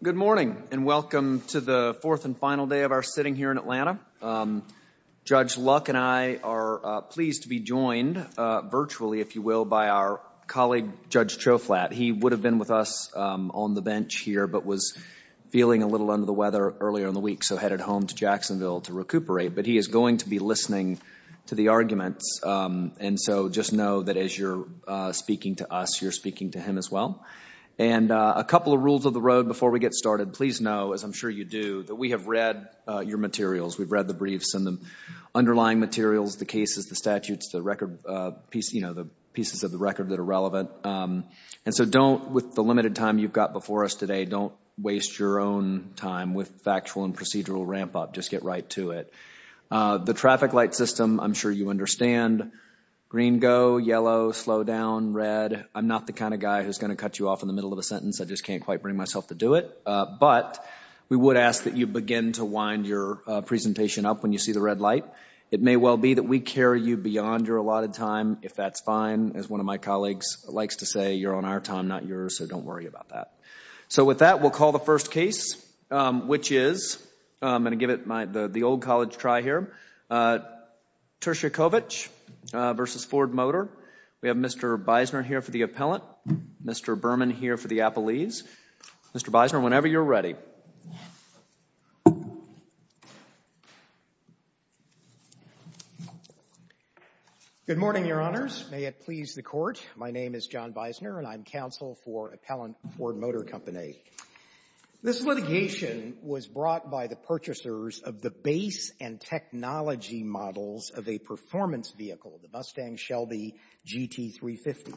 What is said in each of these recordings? Good morning, and welcome to the fourth and final day of our sitting here in Atlanta. Judge Luck and I are pleased to be joined virtually, if you will, by our colleague, Judge Choflat. He would have been with us on the bench here, but was feeling a little under the weather earlier in the week, so headed home to Jacksonville to recuperate. But he is going to be listening to the arguments. And so just know that as you're speaking to us, you're speaking to him as well. And a couple of rules of the road before we get started. Please know, as I'm sure you do, that we have read your materials. We've read the briefs and the underlying materials, the cases, the statutes, the record, you know, the pieces of the record that are relevant. And so don't, with the limited time you've got before us today, don't waste your own time with factual and procedural ramp up. Just get right to it. The traffic light system, I'm sure you understand, green go, yellow, slow down, red. I'm not the kind of guy who's going to cut you off in the middle of a sentence. I just can't quite bring myself to do it. But we would ask that you begin to wind your presentation up when you see the red light. It may well be that we carry you beyond your allotted time, if that's fine, as one of my colleagues likes to say, you're on our time, not yours, so don't worry about that. So with that, we'll call the first case, which is, I'm going to give it my, the old college try here, Turchikovitch v. Ford Motor. We have Mr. Beisner here for the appellant, Mr. Berman here for the appellees. Mr. Beisner, whenever you're ready. Good morning, Your Honors. May it please the Court. My name is John Beisner, and I'm counsel for Appellant Ford Motor Company. This litigation was brought by the purchasers of the base and technology models of a performance vehicle, the Mustang Shelby GT350.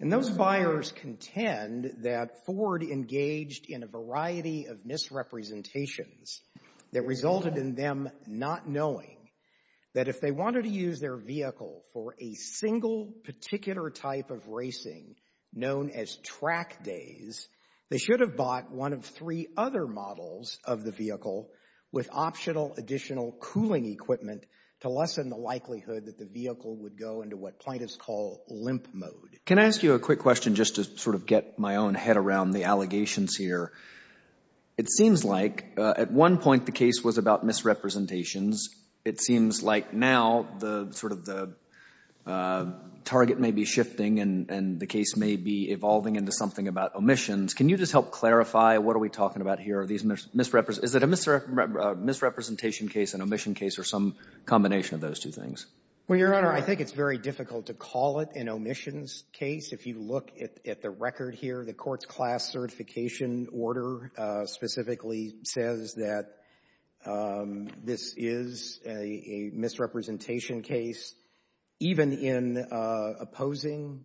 And those buyers contend that Ford engaged in a variety of misrepresentations that resulted in them not knowing that if they wanted to use their vehicle for a single particular type of racing known as track days, they should have bought one of three other models of the vehicle with optional additional cooling equipment to lessen the likelihood that the vehicle would go into what plaintiffs call limp mode. Can I ask you a quick question just to sort of get my own head around the allegations here? It seems like at one point the case was about misrepresentations. It seems like now the sort of the target may be shifting, and the case may be evolving into something about omissions. Can you just help clarify what are we talking about here? Are these misrepresentations? Is it a misrepresentation case, an omission case, or some combination of those two things? Well, Your Honor, I think it's very difficult to call it an omissions case. If you look at the record here, the court's class certification order specifically says that this is a misrepresentation case. Even in opposing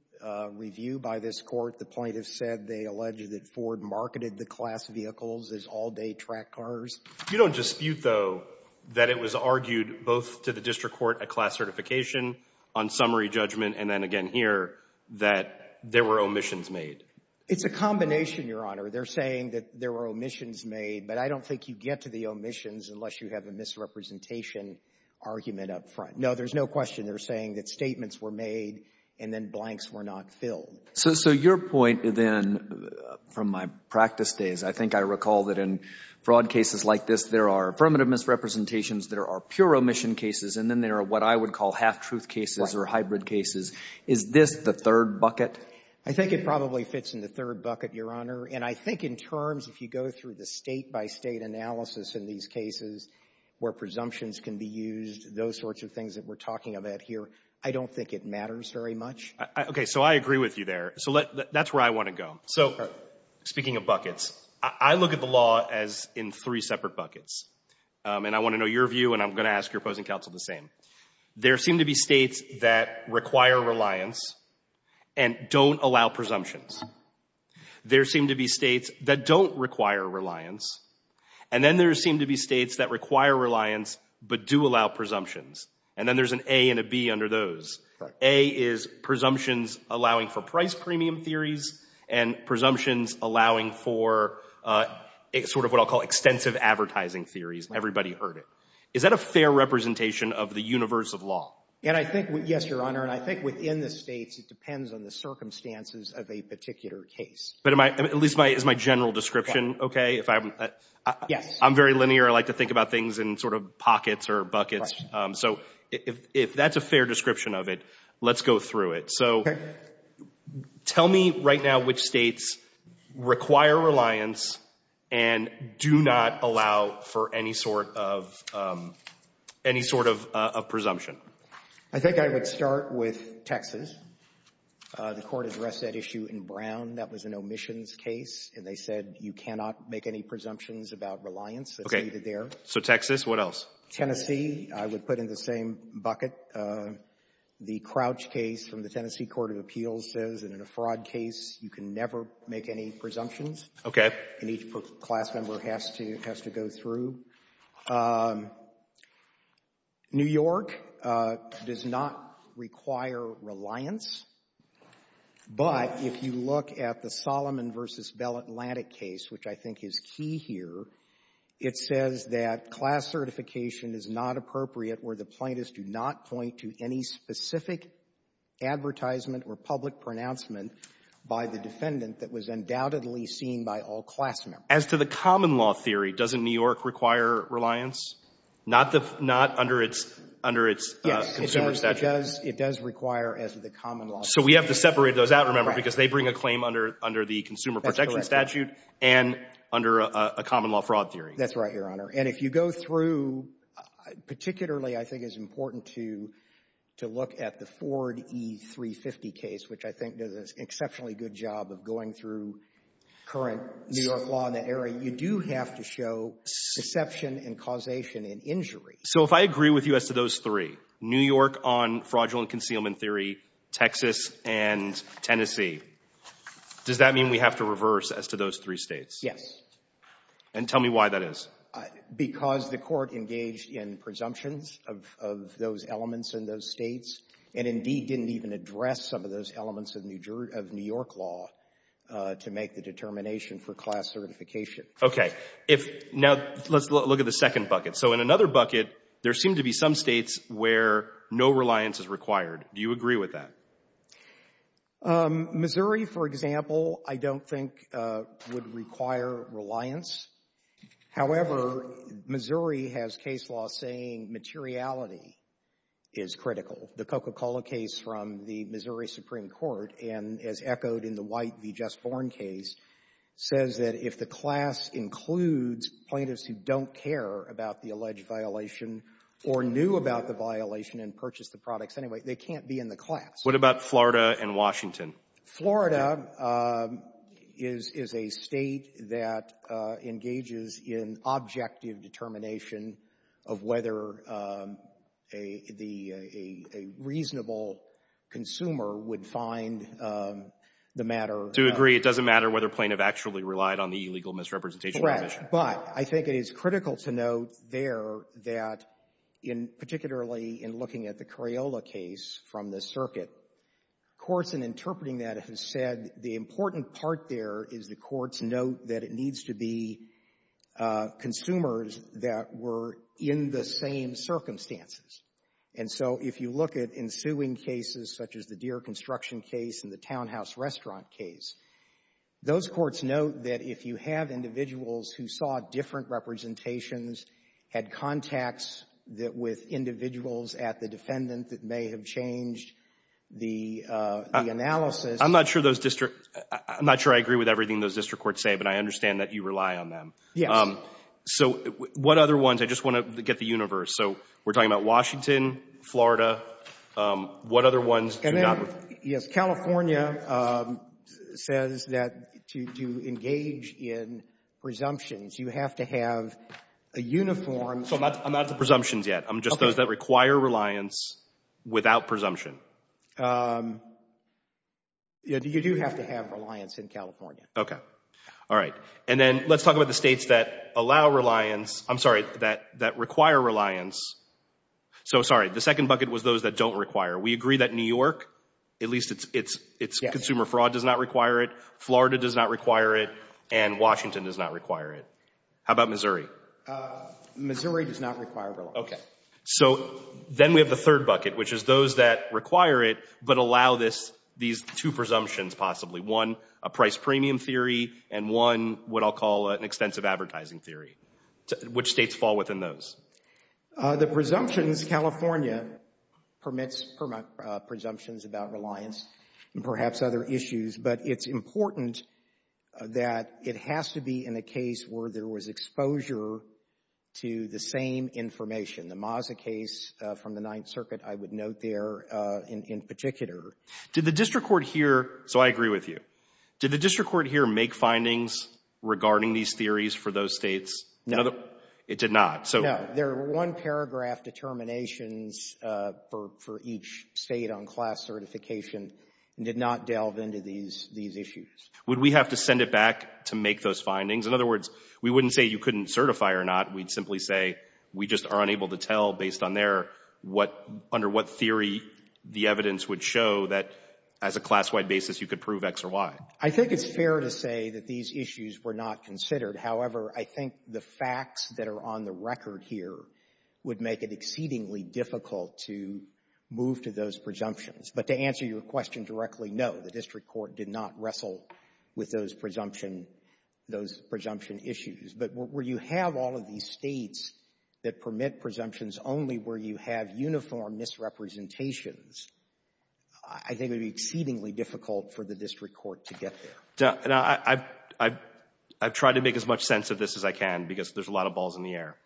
review by this court, the plaintiffs said they alleged that Ford marketed the class vehicles as all-day track cars. You don't dispute, though, that it was argued both to the district court at class certification, on summary judgment, and then again here, that there were omissions made. It's a combination, Your Honor. They're saying that there were omissions made, but I don't think you get to the omissions unless you have a misrepresentation argument up front. No, there's no question. They're saying that statements were made, and then blanks were not filled. So your point, then, from my practice days, I think I recall that in fraud cases like this, there are affirmative misrepresentations, there are pure omission cases, and then there are what I would call half-truth cases or hybrid cases. Is this the third bucket? I think it probably fits in the third bucket, Your Honor. And I think in terms, if you go through the State-by-State analysis in these cases where presumptions can be used, those sorts of things that we're talking about here, I don't think it matters very much. Okay. So I agree with you there. So that's where I want to go. So speaking of buckets, I look at the law as in three separate buckets. And I want to know your view, and I'm going to ask your opposing counsel the same. There seem to be States that require reliance and don't allow presumptions. There seem to be States that don't require reliance, and then there seem to be States that require reliance but do allow presumptions. And then there's an A and a B under those. A is presumptions allowing for price premium theories and presumptions allowing for sort of what I'll call extensive advertising theories. Everybody heard it. Is that a fair representation of the universe of law? And I think, yes, Your Honor, and I think within the States, it depends on the circumstances of a particular case. But at least is my general description okay? Yes. I'm very linear. I like to think about things in sort of pockets or buckets. So if that's a fair description of it, let's go through it. So tell me right now which States require reliance and do not allow for any sort of presumption. I think I would start with Texas. The Court addressed that issue in Brown. That was an omissions case, and they said you cannot make any presumptions about reliance that's needed there. Okay. So Texas. What else? Tennessee, I would put in the same bucket. The Crouch case from the Tennessee Court of Appeals says in a fraud case, you can never make any presumptions. Okay. And each class member has to go through. New York does not require reliance. But if you look at the Solomon v. Bell-Atlantic case, which I think is key here, it says that class certification is not appropriate where the plaintiffs do not point to any specific advertisement or public pronouncement by the defendant that was undoubtedly seen by all class members. As to the common law theory, doesn't New York require reliance? Not under its consumer statute. Yes, it does require as to the common law theory. So we have to separate those out, remember, because they bring a claim under the consumer protection statute and under a common law fraud theory. That's right, Your Honor. And if you go through, particularly I think it's important to look at the Ford E-350 case, which I think does an exceptionally good job of going through current New York law in that area, you do have to show deception and causation in injury. So if I agree with you as to those three, New York on fraudulent concealment theory, Texas, and Tennessee, does that mean we have to reverse as to those three states? Yes. And tell me why that is. Because the court engaged in presumptions of those elements in those states, and indeed didn't even address some of those elements of New York law to make the determination for class certification. Okay. Now, let's look at the second bucket. So in another bucket, there seem to be some states where no reliance is required. Do you agree with that? Missouri, for example, I don't think would require reliance. However, Missouri has case law saying materiality is critical. The Coca-Cola case from the Missouri Supreme Court, and as echoed in the White v. Just Born case, says that if the class includes plaintiffs who don't care about the alleged violation or knew about the violation and purchased the products anyway, they can't be in the class. What about Florida and Washington? Florida is a state that engages in objective determination of whether a reasonable consumer would find the matter— I do agree. It doesn't matter whether a plaintiff actually relied on the illegal misrepresentation provision. Correct. But I think it is critical to note there that in particularly in looking at the Crayola case from the circuit, courts in interpreting that have said the important part there is the court's note that it needs to be consumers that were in the same circumstances. And so if you look at ensuing cases such as the Deere construction case and the townhouse restaurant case, those courts note that if you have individuals who saw different representations, had contacts with individuals at the defendant that may have changed the analysis— I'm not sure those district — I'm not sure I agree with everything those district courts say, but I understand that you rely on them. Yes. So what other ones? I just want to get the universe. So we're talking about Washington, Florida. What other ones do we have? Yes. California says that to engage in presumptions, you have to have a uniform— So I'm not to presumptions yet. I'm just those that require reliance without presumption. You do have to have reliance in California. Okay. All right. And then let's talk about the states that allow reliance — I'm sorry, that require reliance. So, sorry, the second bucket was those that don't require. We agree that New York, at least its consumer fraud does not require it, Florida does not require it, and Washington does not require it. How about Missouri? Missouri does not require reliance. Okay. So then we have the third bucket, which is those that require it but allow these two presumptions possibly. One, a price premium theory, and one, what I'll call an extensive advertising theory. Which states fall within those? The presumptions, California permits presumptions about reliance and perhaps other issues, but it's important that it has to be in a case where there was exposure to the same information. The Maza case from the Ninth Circuit, I would note there in particular. Did the district court here — so I agree with you. Did the district court here make findings regarding these theories for those states? No. It did not. No. Their one-paragraph determinations for each state on class certification did not delve into these issues. Would we have to send it back to make those findings? In other words, we wouldn't say you couldn't certify or not. We'd simply say we just are unable to tell based on their what — under what theory the evidence would show that as a class-wide basis you could prove X or Y. I think it's fair to say that these issues were not considered. However, I think the record here would make it exceedingly difficult to move to those presumptions. But to answer your question directly, no, the district court did not wrestle with those presumption issues. But where you have all of these states that permit presumptions only where you have uniform misrepresentations, I think it would be exceedingly difficult for the district court to get there. And I've tried to make as much sense of this as I can because there's a lot of balls in the air.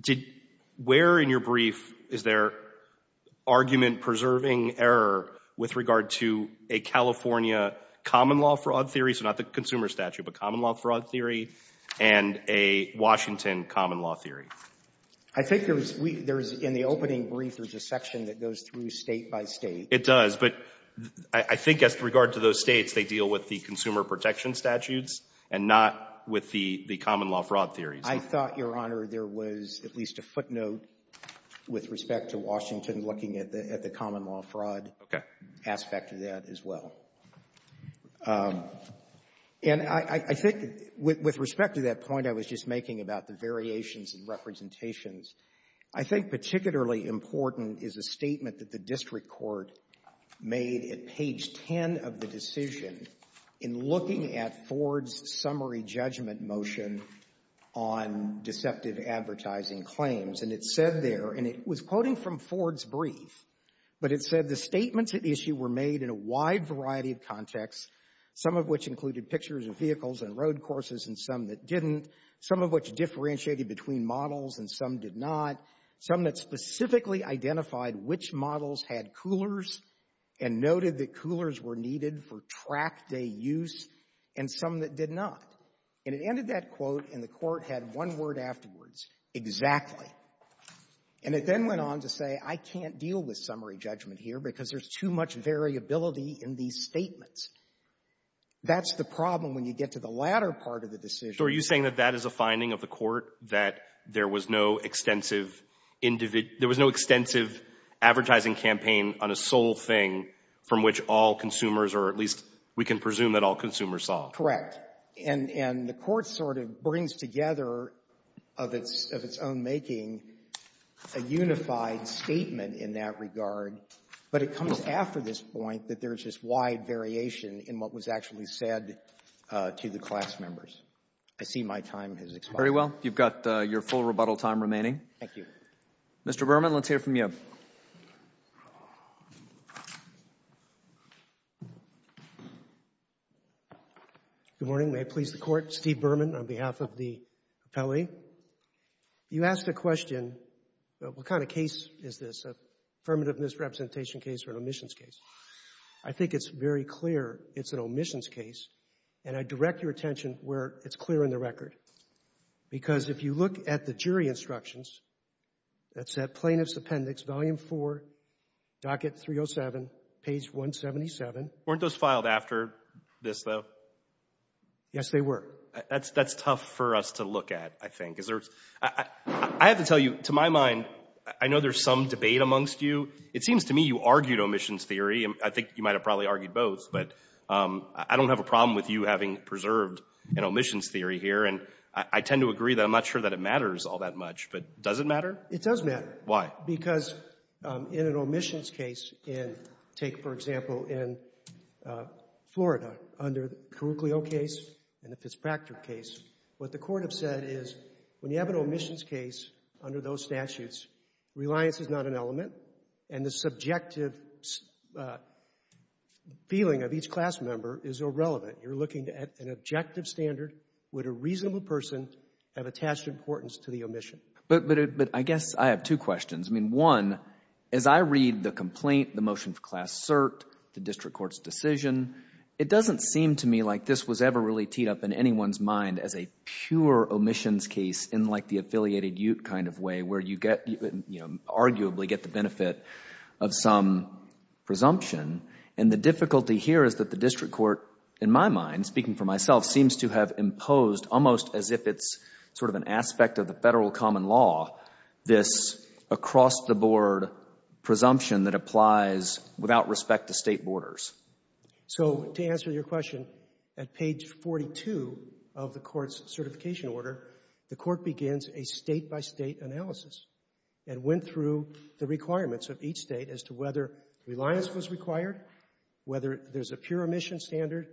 Did — where in your brief is there argument-preserving error with regard to a California common-law fraud theory — so not the consumer statute, but common-law fraud theory — and a Washington common-law theory? I think there's — in the opening brief, there's a section that goes through state by state. It does. But I think as regard to those states, they deal with the consumer protection statutes and not with the common-law fraud theories. I thought, Your Honor, there was at least a footnote with respect to Washington looking at the common-law fraud aspect of that as well. And I think with respect to that point I was just making about the variations in representations, I think particularly important is a statement that the district court made at page 10 of the decision in looking at Ford's summary judgment motion on the basis of the deceptive advertising claims. And it said there — and it was quoting from Ford's brief — but it said the statements at issue were made in a wide variety of contexts, some of which included pictures of vehicles and road courses and some that didn't, some of which differentiated between models and some did not, some that specifically identified which models had coolers and noted that coolers were needed for track-day use, and some that did not. And it ended that quote, and the Court had one word afterwards, exactly. And it then went on to say, I can't deal with summary judgment here because there's too much variability in these statements. That's the problem when you get to the latter part of the decision. So are you saying that that is a finding of the Court, that there was no extensive — there was no extensive advertising campaign on a sole thing from which all consumers or at least we can presume that all consumers saw? Correct. And the Court sort of brings together of its own making a unified statement in that regard, but it comes after this point that there's this wide variation in what was actually said to the class members. I see my time has expired. Very well. You've got your full rebuttal time remaining. Thank you. Mr. Berman, let's hear from you. Good morning. May it please the Court. Steve Berman on behalf of the Appellee. You asked a question, what kind of case is this, an affirmative misrepresentation case or an omissions case? I think it's very clear it's an omissions case, and I direct your attention where it's clear in the record. Because if you look at the jury instructions, that's at Plaintiff's Appendix, Volume 4, Docket 307, Page 177. Weren't those filed after this, though? Yes, they were. That's tough for us to look at, I think. I have to tell you, to my mind, I know there's some debate amongst you. It seems to me you argued omissions theory, and I think you might have probably argued both, but I don't have a problem with you having preserved an omissions theory here, and I tend to agree that I'm not sure that it matters all that much, but does it matter? It does matter. Why? Because in an omissions case, and take, for example, in Florida under the Curriculio case and the Fitzpractice case, what the Court have said is when you have an omissions case under those statutes, reliance is not an element, and the subjective feeling of each class member is irrelevant. You're looking at an objective standard. Would a reasonable person have attached importance to the omission? But I guess I have two questions. I mean, one, as I read the complaint, the motion for class cert, the district court's decision, it doesn't seem to me like this was ever really teed up in anyone's mind as a pure omissions case in like the affiliated ute kind of way where you arguably get the benefit of some presumption, and the difficulty here is that the district court, in my mind, speaking for myself, seems to have imposed almost as if it's sort of an aspect of the federal common law, this across-the-board presumption that applies without respect to state borders. So to answer your question, at page 42 of the Court's certification order, the Court begins a state-by-state analysis and went through the requirements of each state as to whether reliance was required, whether there's a pure omission standard.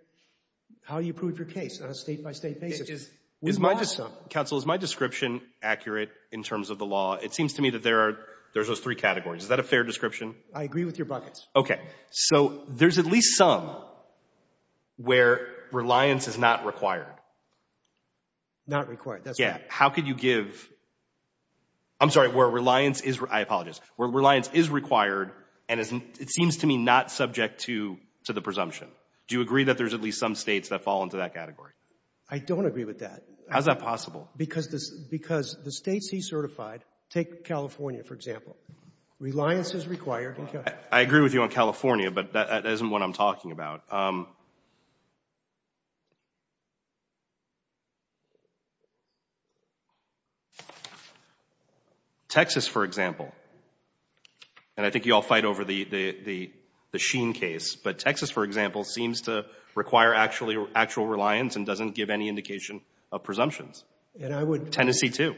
How do you prove your case on a state-by-state basis? Is my — Counsel, is my description accurate in terms of the law? It seems to me that there are — there's those three categories. Is that a fair description? I agree with your buckets. Okay. So there's at least some where reliance is not required. Not required, that's right. Yeah. How could you give — I'm sorry, where reliance is — I apologize — where reliance is required and it seems to me not subject to the presumption? Do you agree that there's at least some states that fall into that category? I don't agree with that. How's that possible? Because the states he certified — take California, for example. Reliance is required in California. I agree with you on California, but that isn't what I'm talking about. Texas, for example — and I think you all fight over the Sheen case — but Texas, for example, seems to require actual reliance and doesn't give any indication of presumptions. And I would — Tennessee, too.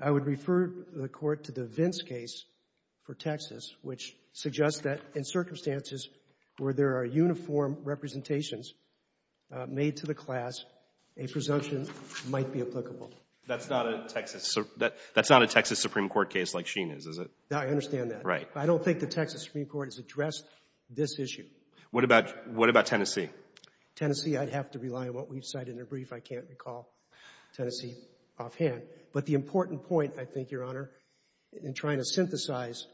I would refer the Court to the Vince case for Texas, which suggests that in circumstances where there are uniform representations made to the class, a presumption might be applicable. That's not a Texas — that's not a Texas Supreme Court case like Sheen is, is it? No, I understand that. Right. I don't think the Texas Supreme Court has addressed this issue. What about — what about Tennessee? Tennessee, I'd have to rely on what we've cited in a brief. I can't recall Tennessee offhand. But the important point, I think, Your Honor, in trying to synthesize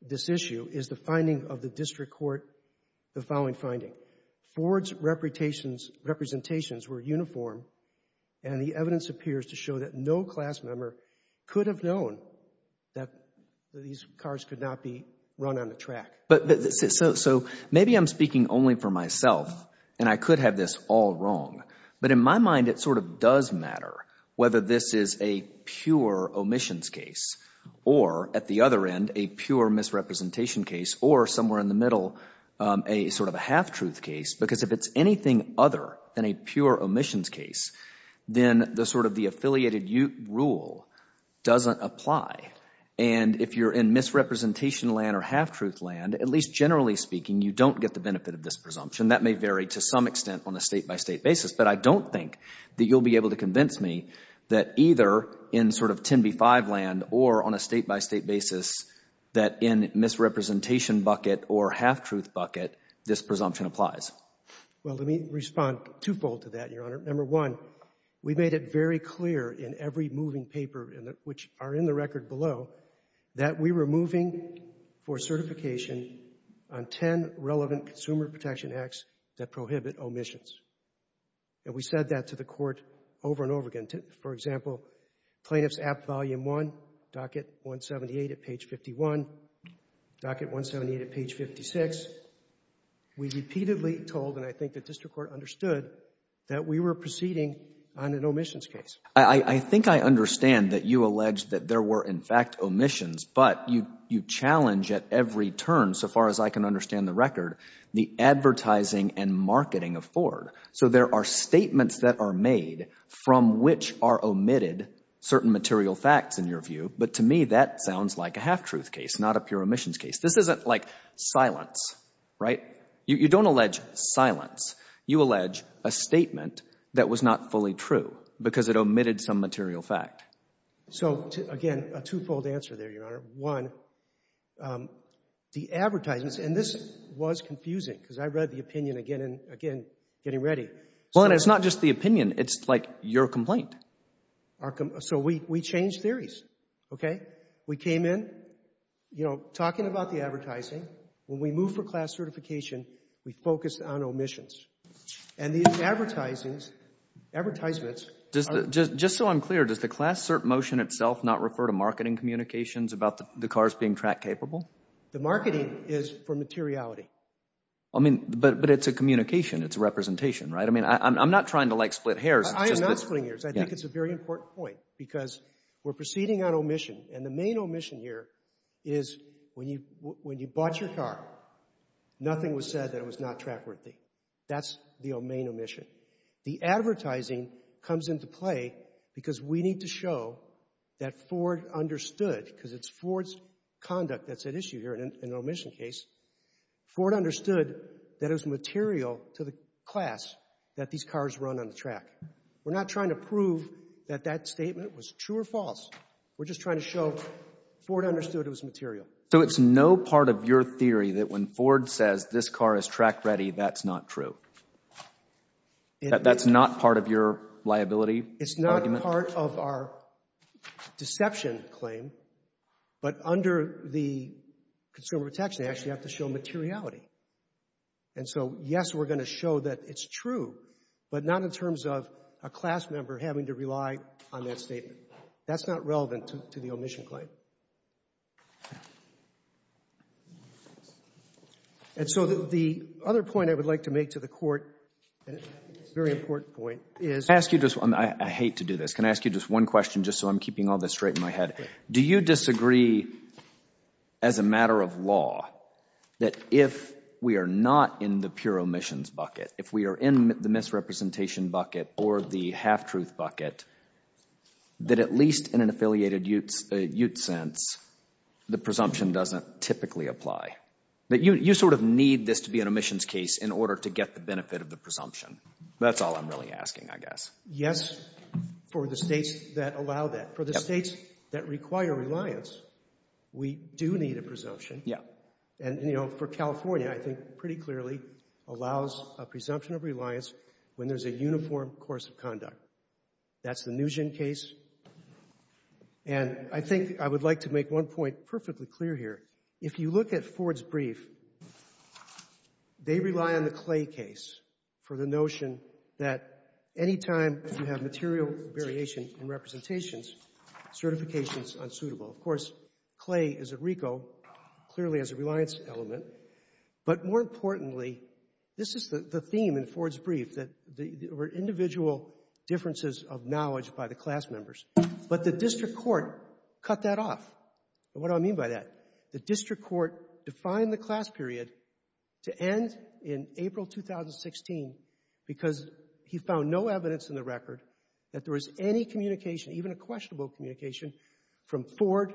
this issue is the finding of the district court, the following finding. Ford's representations were uniform, and the evidence appears to show that no class member could have known that these cars could not be run on the track. So maybe I'm speaking only for myself, and I could have this all wrong. But in my mind, it sort of does matter whether this is a pure omissions case, or at the other end, a pure misrepresentation case, or somewhere in the middle, a sort of a half-truth case. Because if it's anything other than a pure omissions case, then the sort of the affiliated rule doesn't apply. And if you're in misrepresentation land or half-truth land, at least generally speaking, you don't get the benefit of this presumption. That may vary to some extent on a state-by-state basis. But I don't think that you'll be able to convince me that either in sort of 10b-5 land, or on a state-by-state basis, that in misrepresentation bucket or half-truth bucket, this presumption applies. Well, let me respond twofold to that, Your Honor. Number one, we made it very clear in every moving paper, which are in the record below, that we were moving for certification on 10 relevant consumer protection acts that prohibit omissions. And we said that to the Court over and over again. For example, Plaintiff's Act Volume 1, Docket 178 at page 51, Docket 178 at page 56. We repeatedly told, and I think the District Court understood, that we were proceeding on an omissions case. I think I understand that you allege that there were, in fact, omissions. But you challenge at every turn, so far as I can understand the record, the advertising and marketing of Ford. So there are statements that are made from which are omitted certain material facts, in your view. But to me, that sounds like a half-truth case, not a pure omissions case. This isn't like silence, right? You don't allege silence. You allege a statement that was not fully true because it omitted some material fact. So, again, a two-fold answer there, Your Honor. One, the advertisements, and this was confusing, because I read the opinion again and again, getting ready. Well, and it's not just the opinion. It's like your complaint. So we changed theories, okay? We came in, you know, talking about the advertising. When we moved for class certification, we focused on omissions. And these advertisements... Just so I'm clear, does the class cert motion itself not refer to marketing communications about the cars being track capable? The marketing is for materiality. I mean, but it's a communication. It's a representation, right? I mean, I'm not trying to, like, split hairs. I am not splitting hairs. I think it's a very important point, because we're proceeding on omission. And the main omission here is when you bought your car, nothing was said that it was not track worthy. That's the main omission. The advertising comes into play because we need to show that Ford understood, because it's Ford's conduct that's at issue here in an omission case. Ford understood that it was material to the class that these cars run on the track. We're not trying to prove that that statement was true or false. We're just trying to show Ford understood it was material. So it's no part of your theory that when Ford says, this car is track ready, that's not true. That's not part of your liability argument? It's not part of our deception claim. But under the Consumer Protection Act, you have to show materiality. And so, yes, we're going to show that it's true, but not in terms of a class member having to rely on that statement. That's not relevant to the omission claim. And so, the other point I would like to make to the court, and it's a very important point, is... Can I ask you just one? I hate to do this. Can I ask you just one question, just so I'm keeping all this straight in my head? Do you disagree, as a matter of law, that if we are not in the pure omissions bucket, if we are in the misrepresentation bucket or the half-truth bucket, that at least in an affiliated ute setting, the presumption doesn't typically apply? You sort of need this to be an omissions case in order to get the benefit of the presumption. That's all I'm really asking, I guess. Yes, for the states that allow that. For the states that require reliance, we do need a presumption. And, you know, for California, I think pretty clearly allows a presumption of reliance when there's a uniform course of conduct. That's the Nguyen case. And I think I would like to make one point perfectly clear here. If you look at Ford's brief, they rely on the Clay case for the notion that any time you have material variation in representations, certification's unsuitable. Of course, Clay is a RICO, clearly has a reliance element. But more importantly, this is the theme in Ford's brief, that there were individual differences of knowledge by the class members. But the district court cut that off. And what do I mean by that? The district court defined the class period to end in April 2016 because he found no evidence in the record that there was any communication, even a questionable communication, from Ford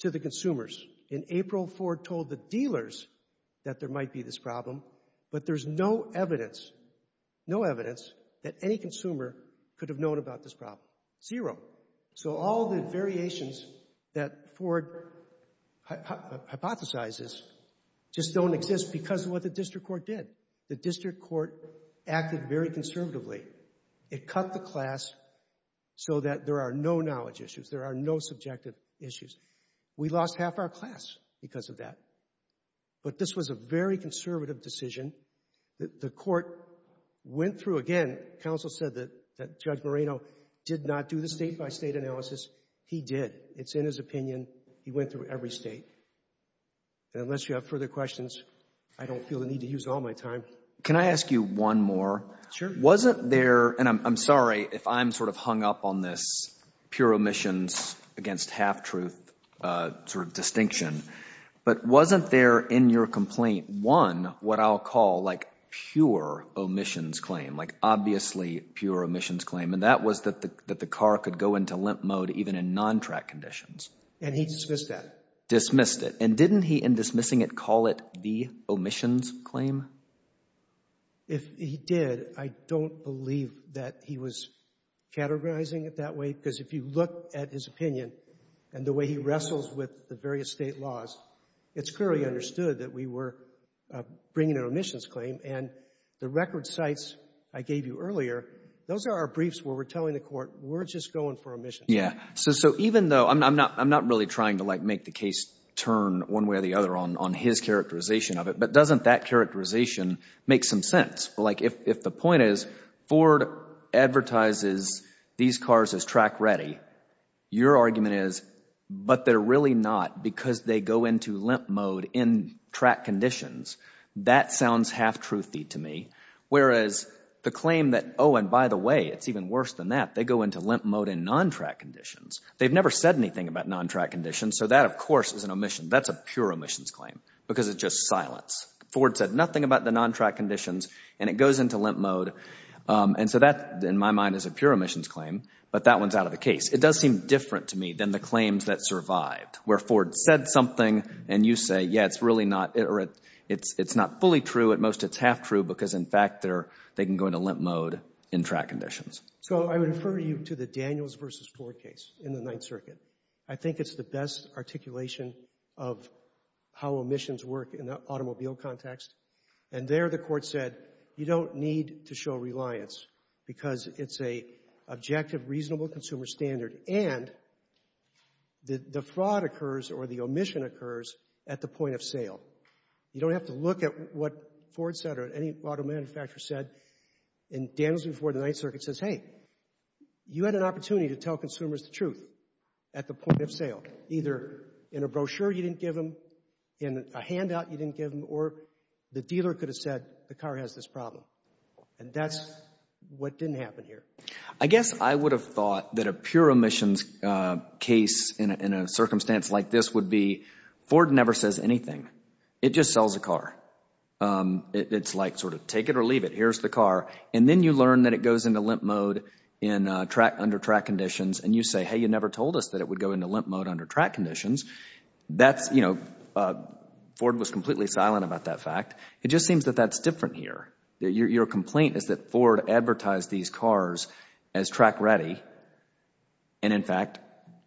to the consumers. In April, Ford told the dealers that there might be this problem, but there's no evidence, no evidence, that any consumer could have known about this problem. Zero. So all the variations that Ford hypothesizes just don't exist because of what the district court did. The district court acted very conservatively. It cut the class so that there are no knowledge issues. There are no subjective issues. We lost half our class because of that. But this was a very conservative decision. The court went through again. Counsel said that Judge Moreno did not do the state-by-state analysis. He did. It's in his opinion. He went through every state. And unless you have further questions, I don't feel the need to use all my time. Can I ask you one more? Sure. Wasn't there, and I'm sorry if I'm sort of hung up on this pure omissions against half-truth sort of distinction, but wasn't there in your complaint, one, what I'll call like pure omissions claim, obviously pure omissions claim, and that was that the car could go into limp mode even in non-track conditions. And he dismissed that. Dismissed it. And didn't he, in dismissing it, call it the omissions claim? If he did, I don't believe that he was categorizing it that way because if you look at his opinion and the way he wrestles with the various state laws, it's clearly understood that we were bringing an omissions claim. And the record sites I gave you earlier, those are our briefs where we're telling the court we're just going for omissions. Yeah. So even though, I'm not really trying to like make the case turn one way or the other on his characterization of it, but doesn't that characterization make some sense? Like if the point is Ford advertises these cars as track ready, your argument is, but they're really not because they go into limp mode in track conditions. That sounds half truthy to me. Whereas the claim that, oh, and by the way, it's even worse than that. They go into limp mode in non-track conditions. They've never said anything about non-track conditions. So that, of course, is an omission. That's a pure omissions claim because it's just silence. Ford said nothing about the non-track conditions and it goes into limp mode. And so that, in my mind, is a pure omissions claim. But that one's out of the case. It does seem different to me than the claims that survived where Ford said something and you say, yeah, it's really not or it's not fully true. At most, it's half true because, in fact, they can go into limp mode in track conditions. So I would refer you to the Daniels versus Ford case in the Ninth Circuit. I think it's the best articulation of how omissions work in the automobile context. And there the court said, you don't need to show reliance because it's a objective, reasonable consumer standard and the fraud occurs or the omission occurs at the point of sale. You don't have to look at what Ford said or any auto manufacturer said in Daniels before the Ninth Circuit says, hey, you had an opportunity to tell consumers the truth at the point of sale. Either in a brochure you didn't give them, in a handout you didn't give them, or the dealer could have said the car has this problem. And that's what didn't happen here. I guess I would have thought that a pure omissions case in a circumstance like this would be Ford never says anything. It just sells a car. It's like sort of take it or leave it. Here's the car. And then you learn that it goes into limp mode in track, under track conditions. And you say, hey, you never told us that it would go into limp mode under track conditions. That's, you know, Ford was completely silent about that fact. It just seems that that's different here. Your complaint is that Ford advertised these cars as track ready. And in fact,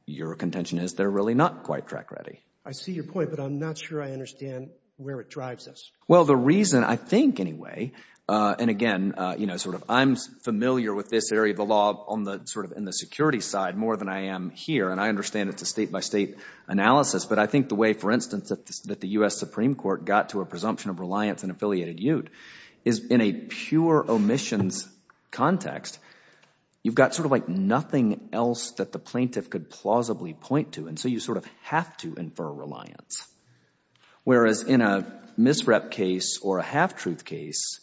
your contention is they're really not quite track ready. I see your point, but I'm not sure I understand where it drives us. Well, the reason I think anyway, and again, you know, sort of I'm familiar with this area of the law on the sort of in the security side more than I am here. And I understand it's a state by state analysis. But I think the way, for instance, that the U.S. Supreme Court got to a presumption of reliance on affiliated ute is in a pure omissions context, you've got sort of like nothing else that the plaintiff could plausibly point to. And so you sort of have to infer reliance. Whereas in a misrep case or a half truth case,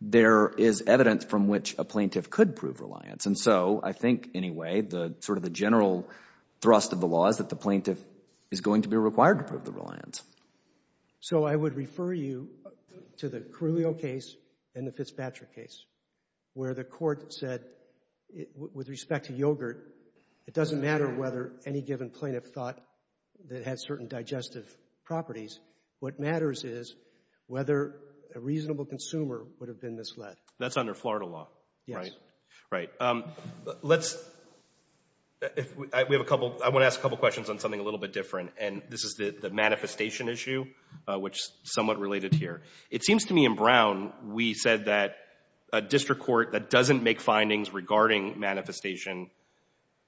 there is evidence from which a plaintiff could prove reliance. And so I think anyway, the sort of the general thrust of the law is that the plaintiff is going to be required to prove the reliance. So I would refer you to the Carrillo case and the Fitzpatrick case where the court said with respect to yogurt, it doesn't matter whether any given plaintiff thought that had certain digestive properties. What matters is whether a reasonable consumer would have been misled. That's under Florida law, right? Yes. Right. Let's, we have a couple, I want to ask a couple questions on something a little bit different. And this is the manifestation issue, which is somewhat related here. It seems to me in Brown, we said that a district court that doesn't make findings regarding manifestation,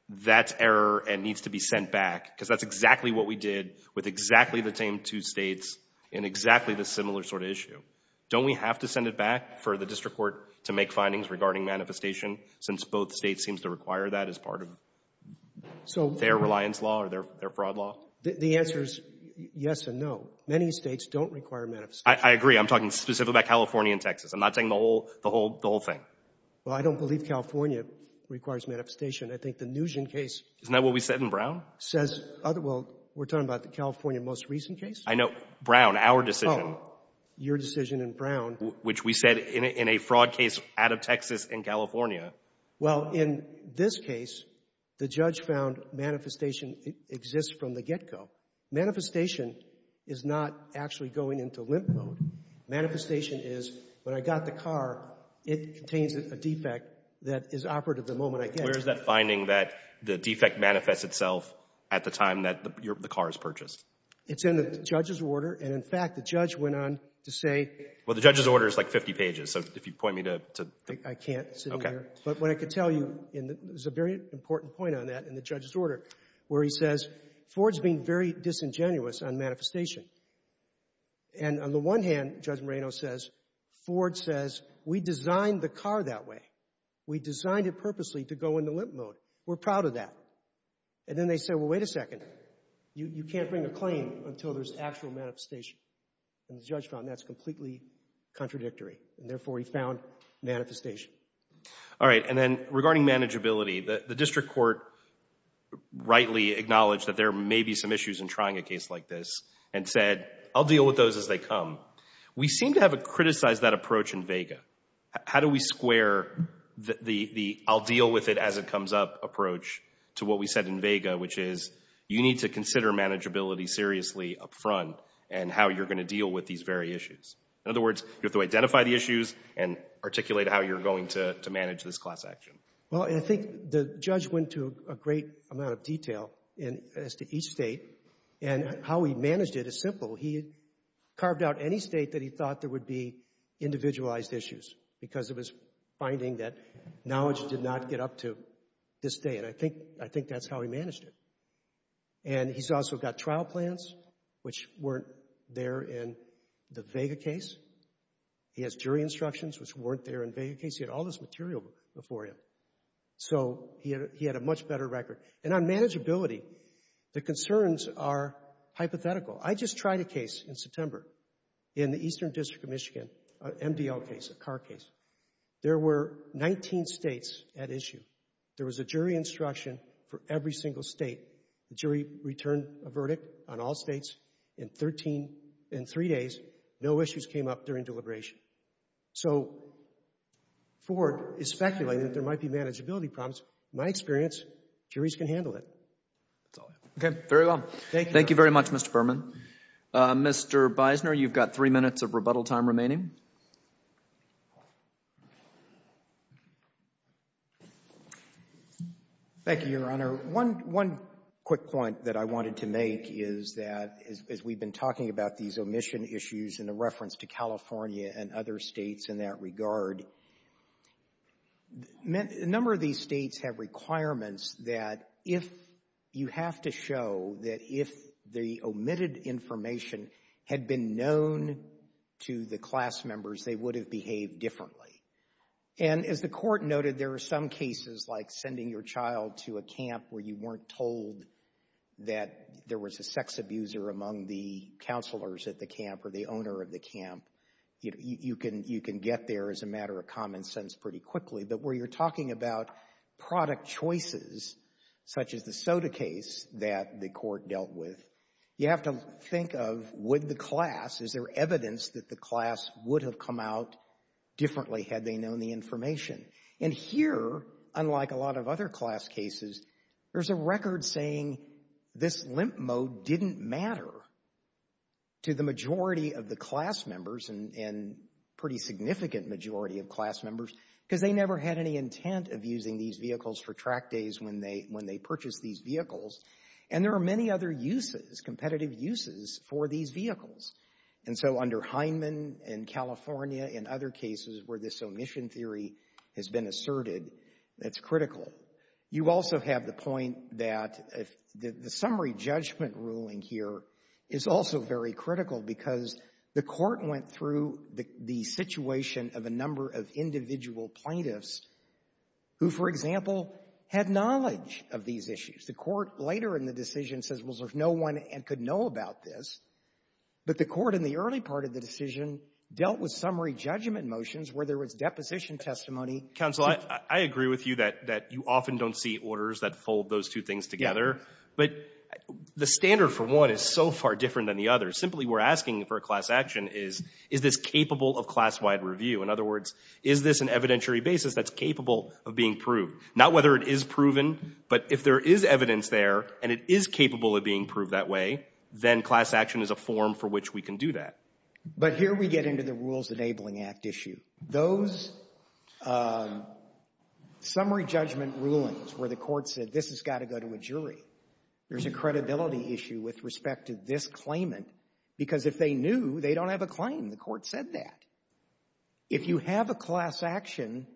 that's error and needs to be sent back because that's exactly what we did with exactly the same two states in exactly the similar sort of issue. Don't we have to send it back for the district court to make findings regarding manifestation since both states seems to require that as part of their reliance law or their fraud law? The answer is yes and no. Many states don't require manifestation. I agree. I'm talking specifically about California and Texas. I'm not saying the whole thing. Well, I don't believe California requires manifestation. I think the Nugent case. Isn't that what we said in Brown? Says, well, we're talking about the California most recent case. I know, Brown, our decision. Your decision in Brown. Which we said in a fraud case out of Texas and California. Well, in this case, the judge found manifestation exists from the get-go. Manifestation is not actually going into limp mode. Manifestation is when I got the car, it contains a defect that is operative the moment I get it. Where is that finding that the defect manifests itself at the time that the car is purchased? It's in the judge's order. And in fact, the judge went on to say... Well, the judge's order is like 50 pages. So if you point me to... I can't sit in here. But what I could tell you, and there's a very important point on that in the judge's order, where he says, Ford's being very disingenuous on manifestation. And on the one hand, Judge Moreno says, Ford says, we designed the car that way. We designed it purposely to go into limp mode. We're proud of that. And then they said, well, wait a second. You can't bring a claim until there's actual manifestation. And the judge found that's completely contradictory. And therefore, he found manifestation. All right. And then regarding manageability, the district court rightly acknowledged that there may be some issues in trying a case like this and said, I'll deal with those as they come. We seem to have criticized that approach in vega. How do we square the I'll deal with it as it comes up approach to what we said in vega, which is you need to consider manageability seriously up front and how you're going to deal with these very issues. In other words, you have to identify the issues and articulate how you're going to manage this class action. Well, I think the judge went to a great amount of detail as to each state. And how he managed it is simple. He carved out any state that he thought there would be individualized issues because it was finding that knowledge did not get up to this day. And I think that's how he managed it. And he's also got trial plans, which weren't there in the vega case. He has jury instructions, which weren't there in vega case. He had all this material before him. So he had a much better record. And on manageability, the concerns are hypothetical. I just tried a case in September in the Eastern District of Michigan, an MDL case, a car case. There were 19 states at issue. There was a jury instruction for every single state. The jury returned a verdict on all states. In 13, in three days, no issues came up during deliberation. So Ford is speculating that there might be manageability problems. My experience, juries can handle it. That's all I have. Okay, very well. Thank you very much, Mr. Berman. Mr. Bisner, you've got three minutes of rebuttal time remaining. Thank you, Your Honor. One quick point that I wanted to make is that, as we've been talking about these omission issues in the reference to California and other states in that regard, a number of these states have requirements that if you have to show that if the omitted information had been known to the class members, they would have behaved differently. And as the Court noted, there are some cases like sending your child to a camp where you weren't told that there was a sex abuser among the counselors at the camp or the owner of the camp. You can get there as a matter of common sense pretty quickly. But where you're talking about product choices, such as the soda case that the Court dealt with, you have to think of would the class, is there evidence that the class would have come out differently had they known the information? And here, unlike a lot of other class cases, there's a record saying this limp mode didn't matter to the majority of the class members and pretty significant majority of class members because they never had any intent of using these vehicles for track days when they purchased these vehicles. And there are many other uses, competitive uses for these vehicles. And so under Heinemann and California and other cases where this omission theory has been asserted, that's critical. You also have the point that the summary judgment ruling here is also very critical because the Court went through the situation of a number of individual plaintiffs who, for example, had knowledge of these issues. The Court later in the decision says, well, there's no one and could know about this. But the Court in the early part of the decision dealt with summary judgment motions where there was deposition testimony. —Counsel, I agree with you that you often don't see orders that fold those two things together. But the standard for one is so far different than the other. Simply, we're asking for a class action is, is this capable of class-wide review? In other words, is this an evidentiary basis that's capable of being proved? Not whether it is proven, but if there is evidence there and it is capable of being proved that way, then class action is a form for which we can do that. —But here we get into the Rules Enabling Act issue. Those summary judgment rulings where the Court said, this has got to go to a jury, there's a credibility issue with respect to this claimant because if they knew, they don't have a claim. The Court said that. If you have a class action,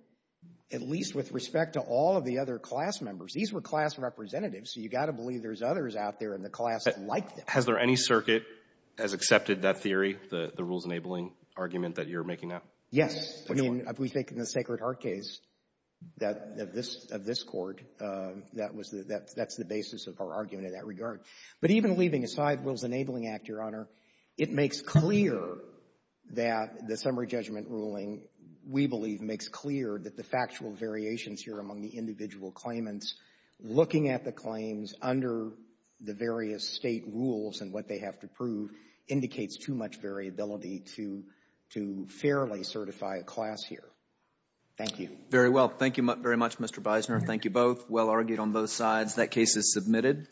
at least with respect to all of the other class members, these were class representatives, so you've got to believe there's others out there in the class like them. —Has there any circuit that has accepted that theory, the Rules Enabling argument that you're making now? —Yes. I mean, we think in the Sacred Heart case of this Court, that's the basis of our argument in that regard. But even leaving aside Rules Enabling Act, Your Honor, it makes clear that the summary judgment ruling, we believe, makes clear that the factual variations here among the individual claimants, looking at the claims under the various State rules and what they have to prove, indicates too much variability to fairly certify a class here. Thank you. —Very well. Thank you very much, Mr. Bisoner. Thank you both. Well argued on both sides. That case is submitted.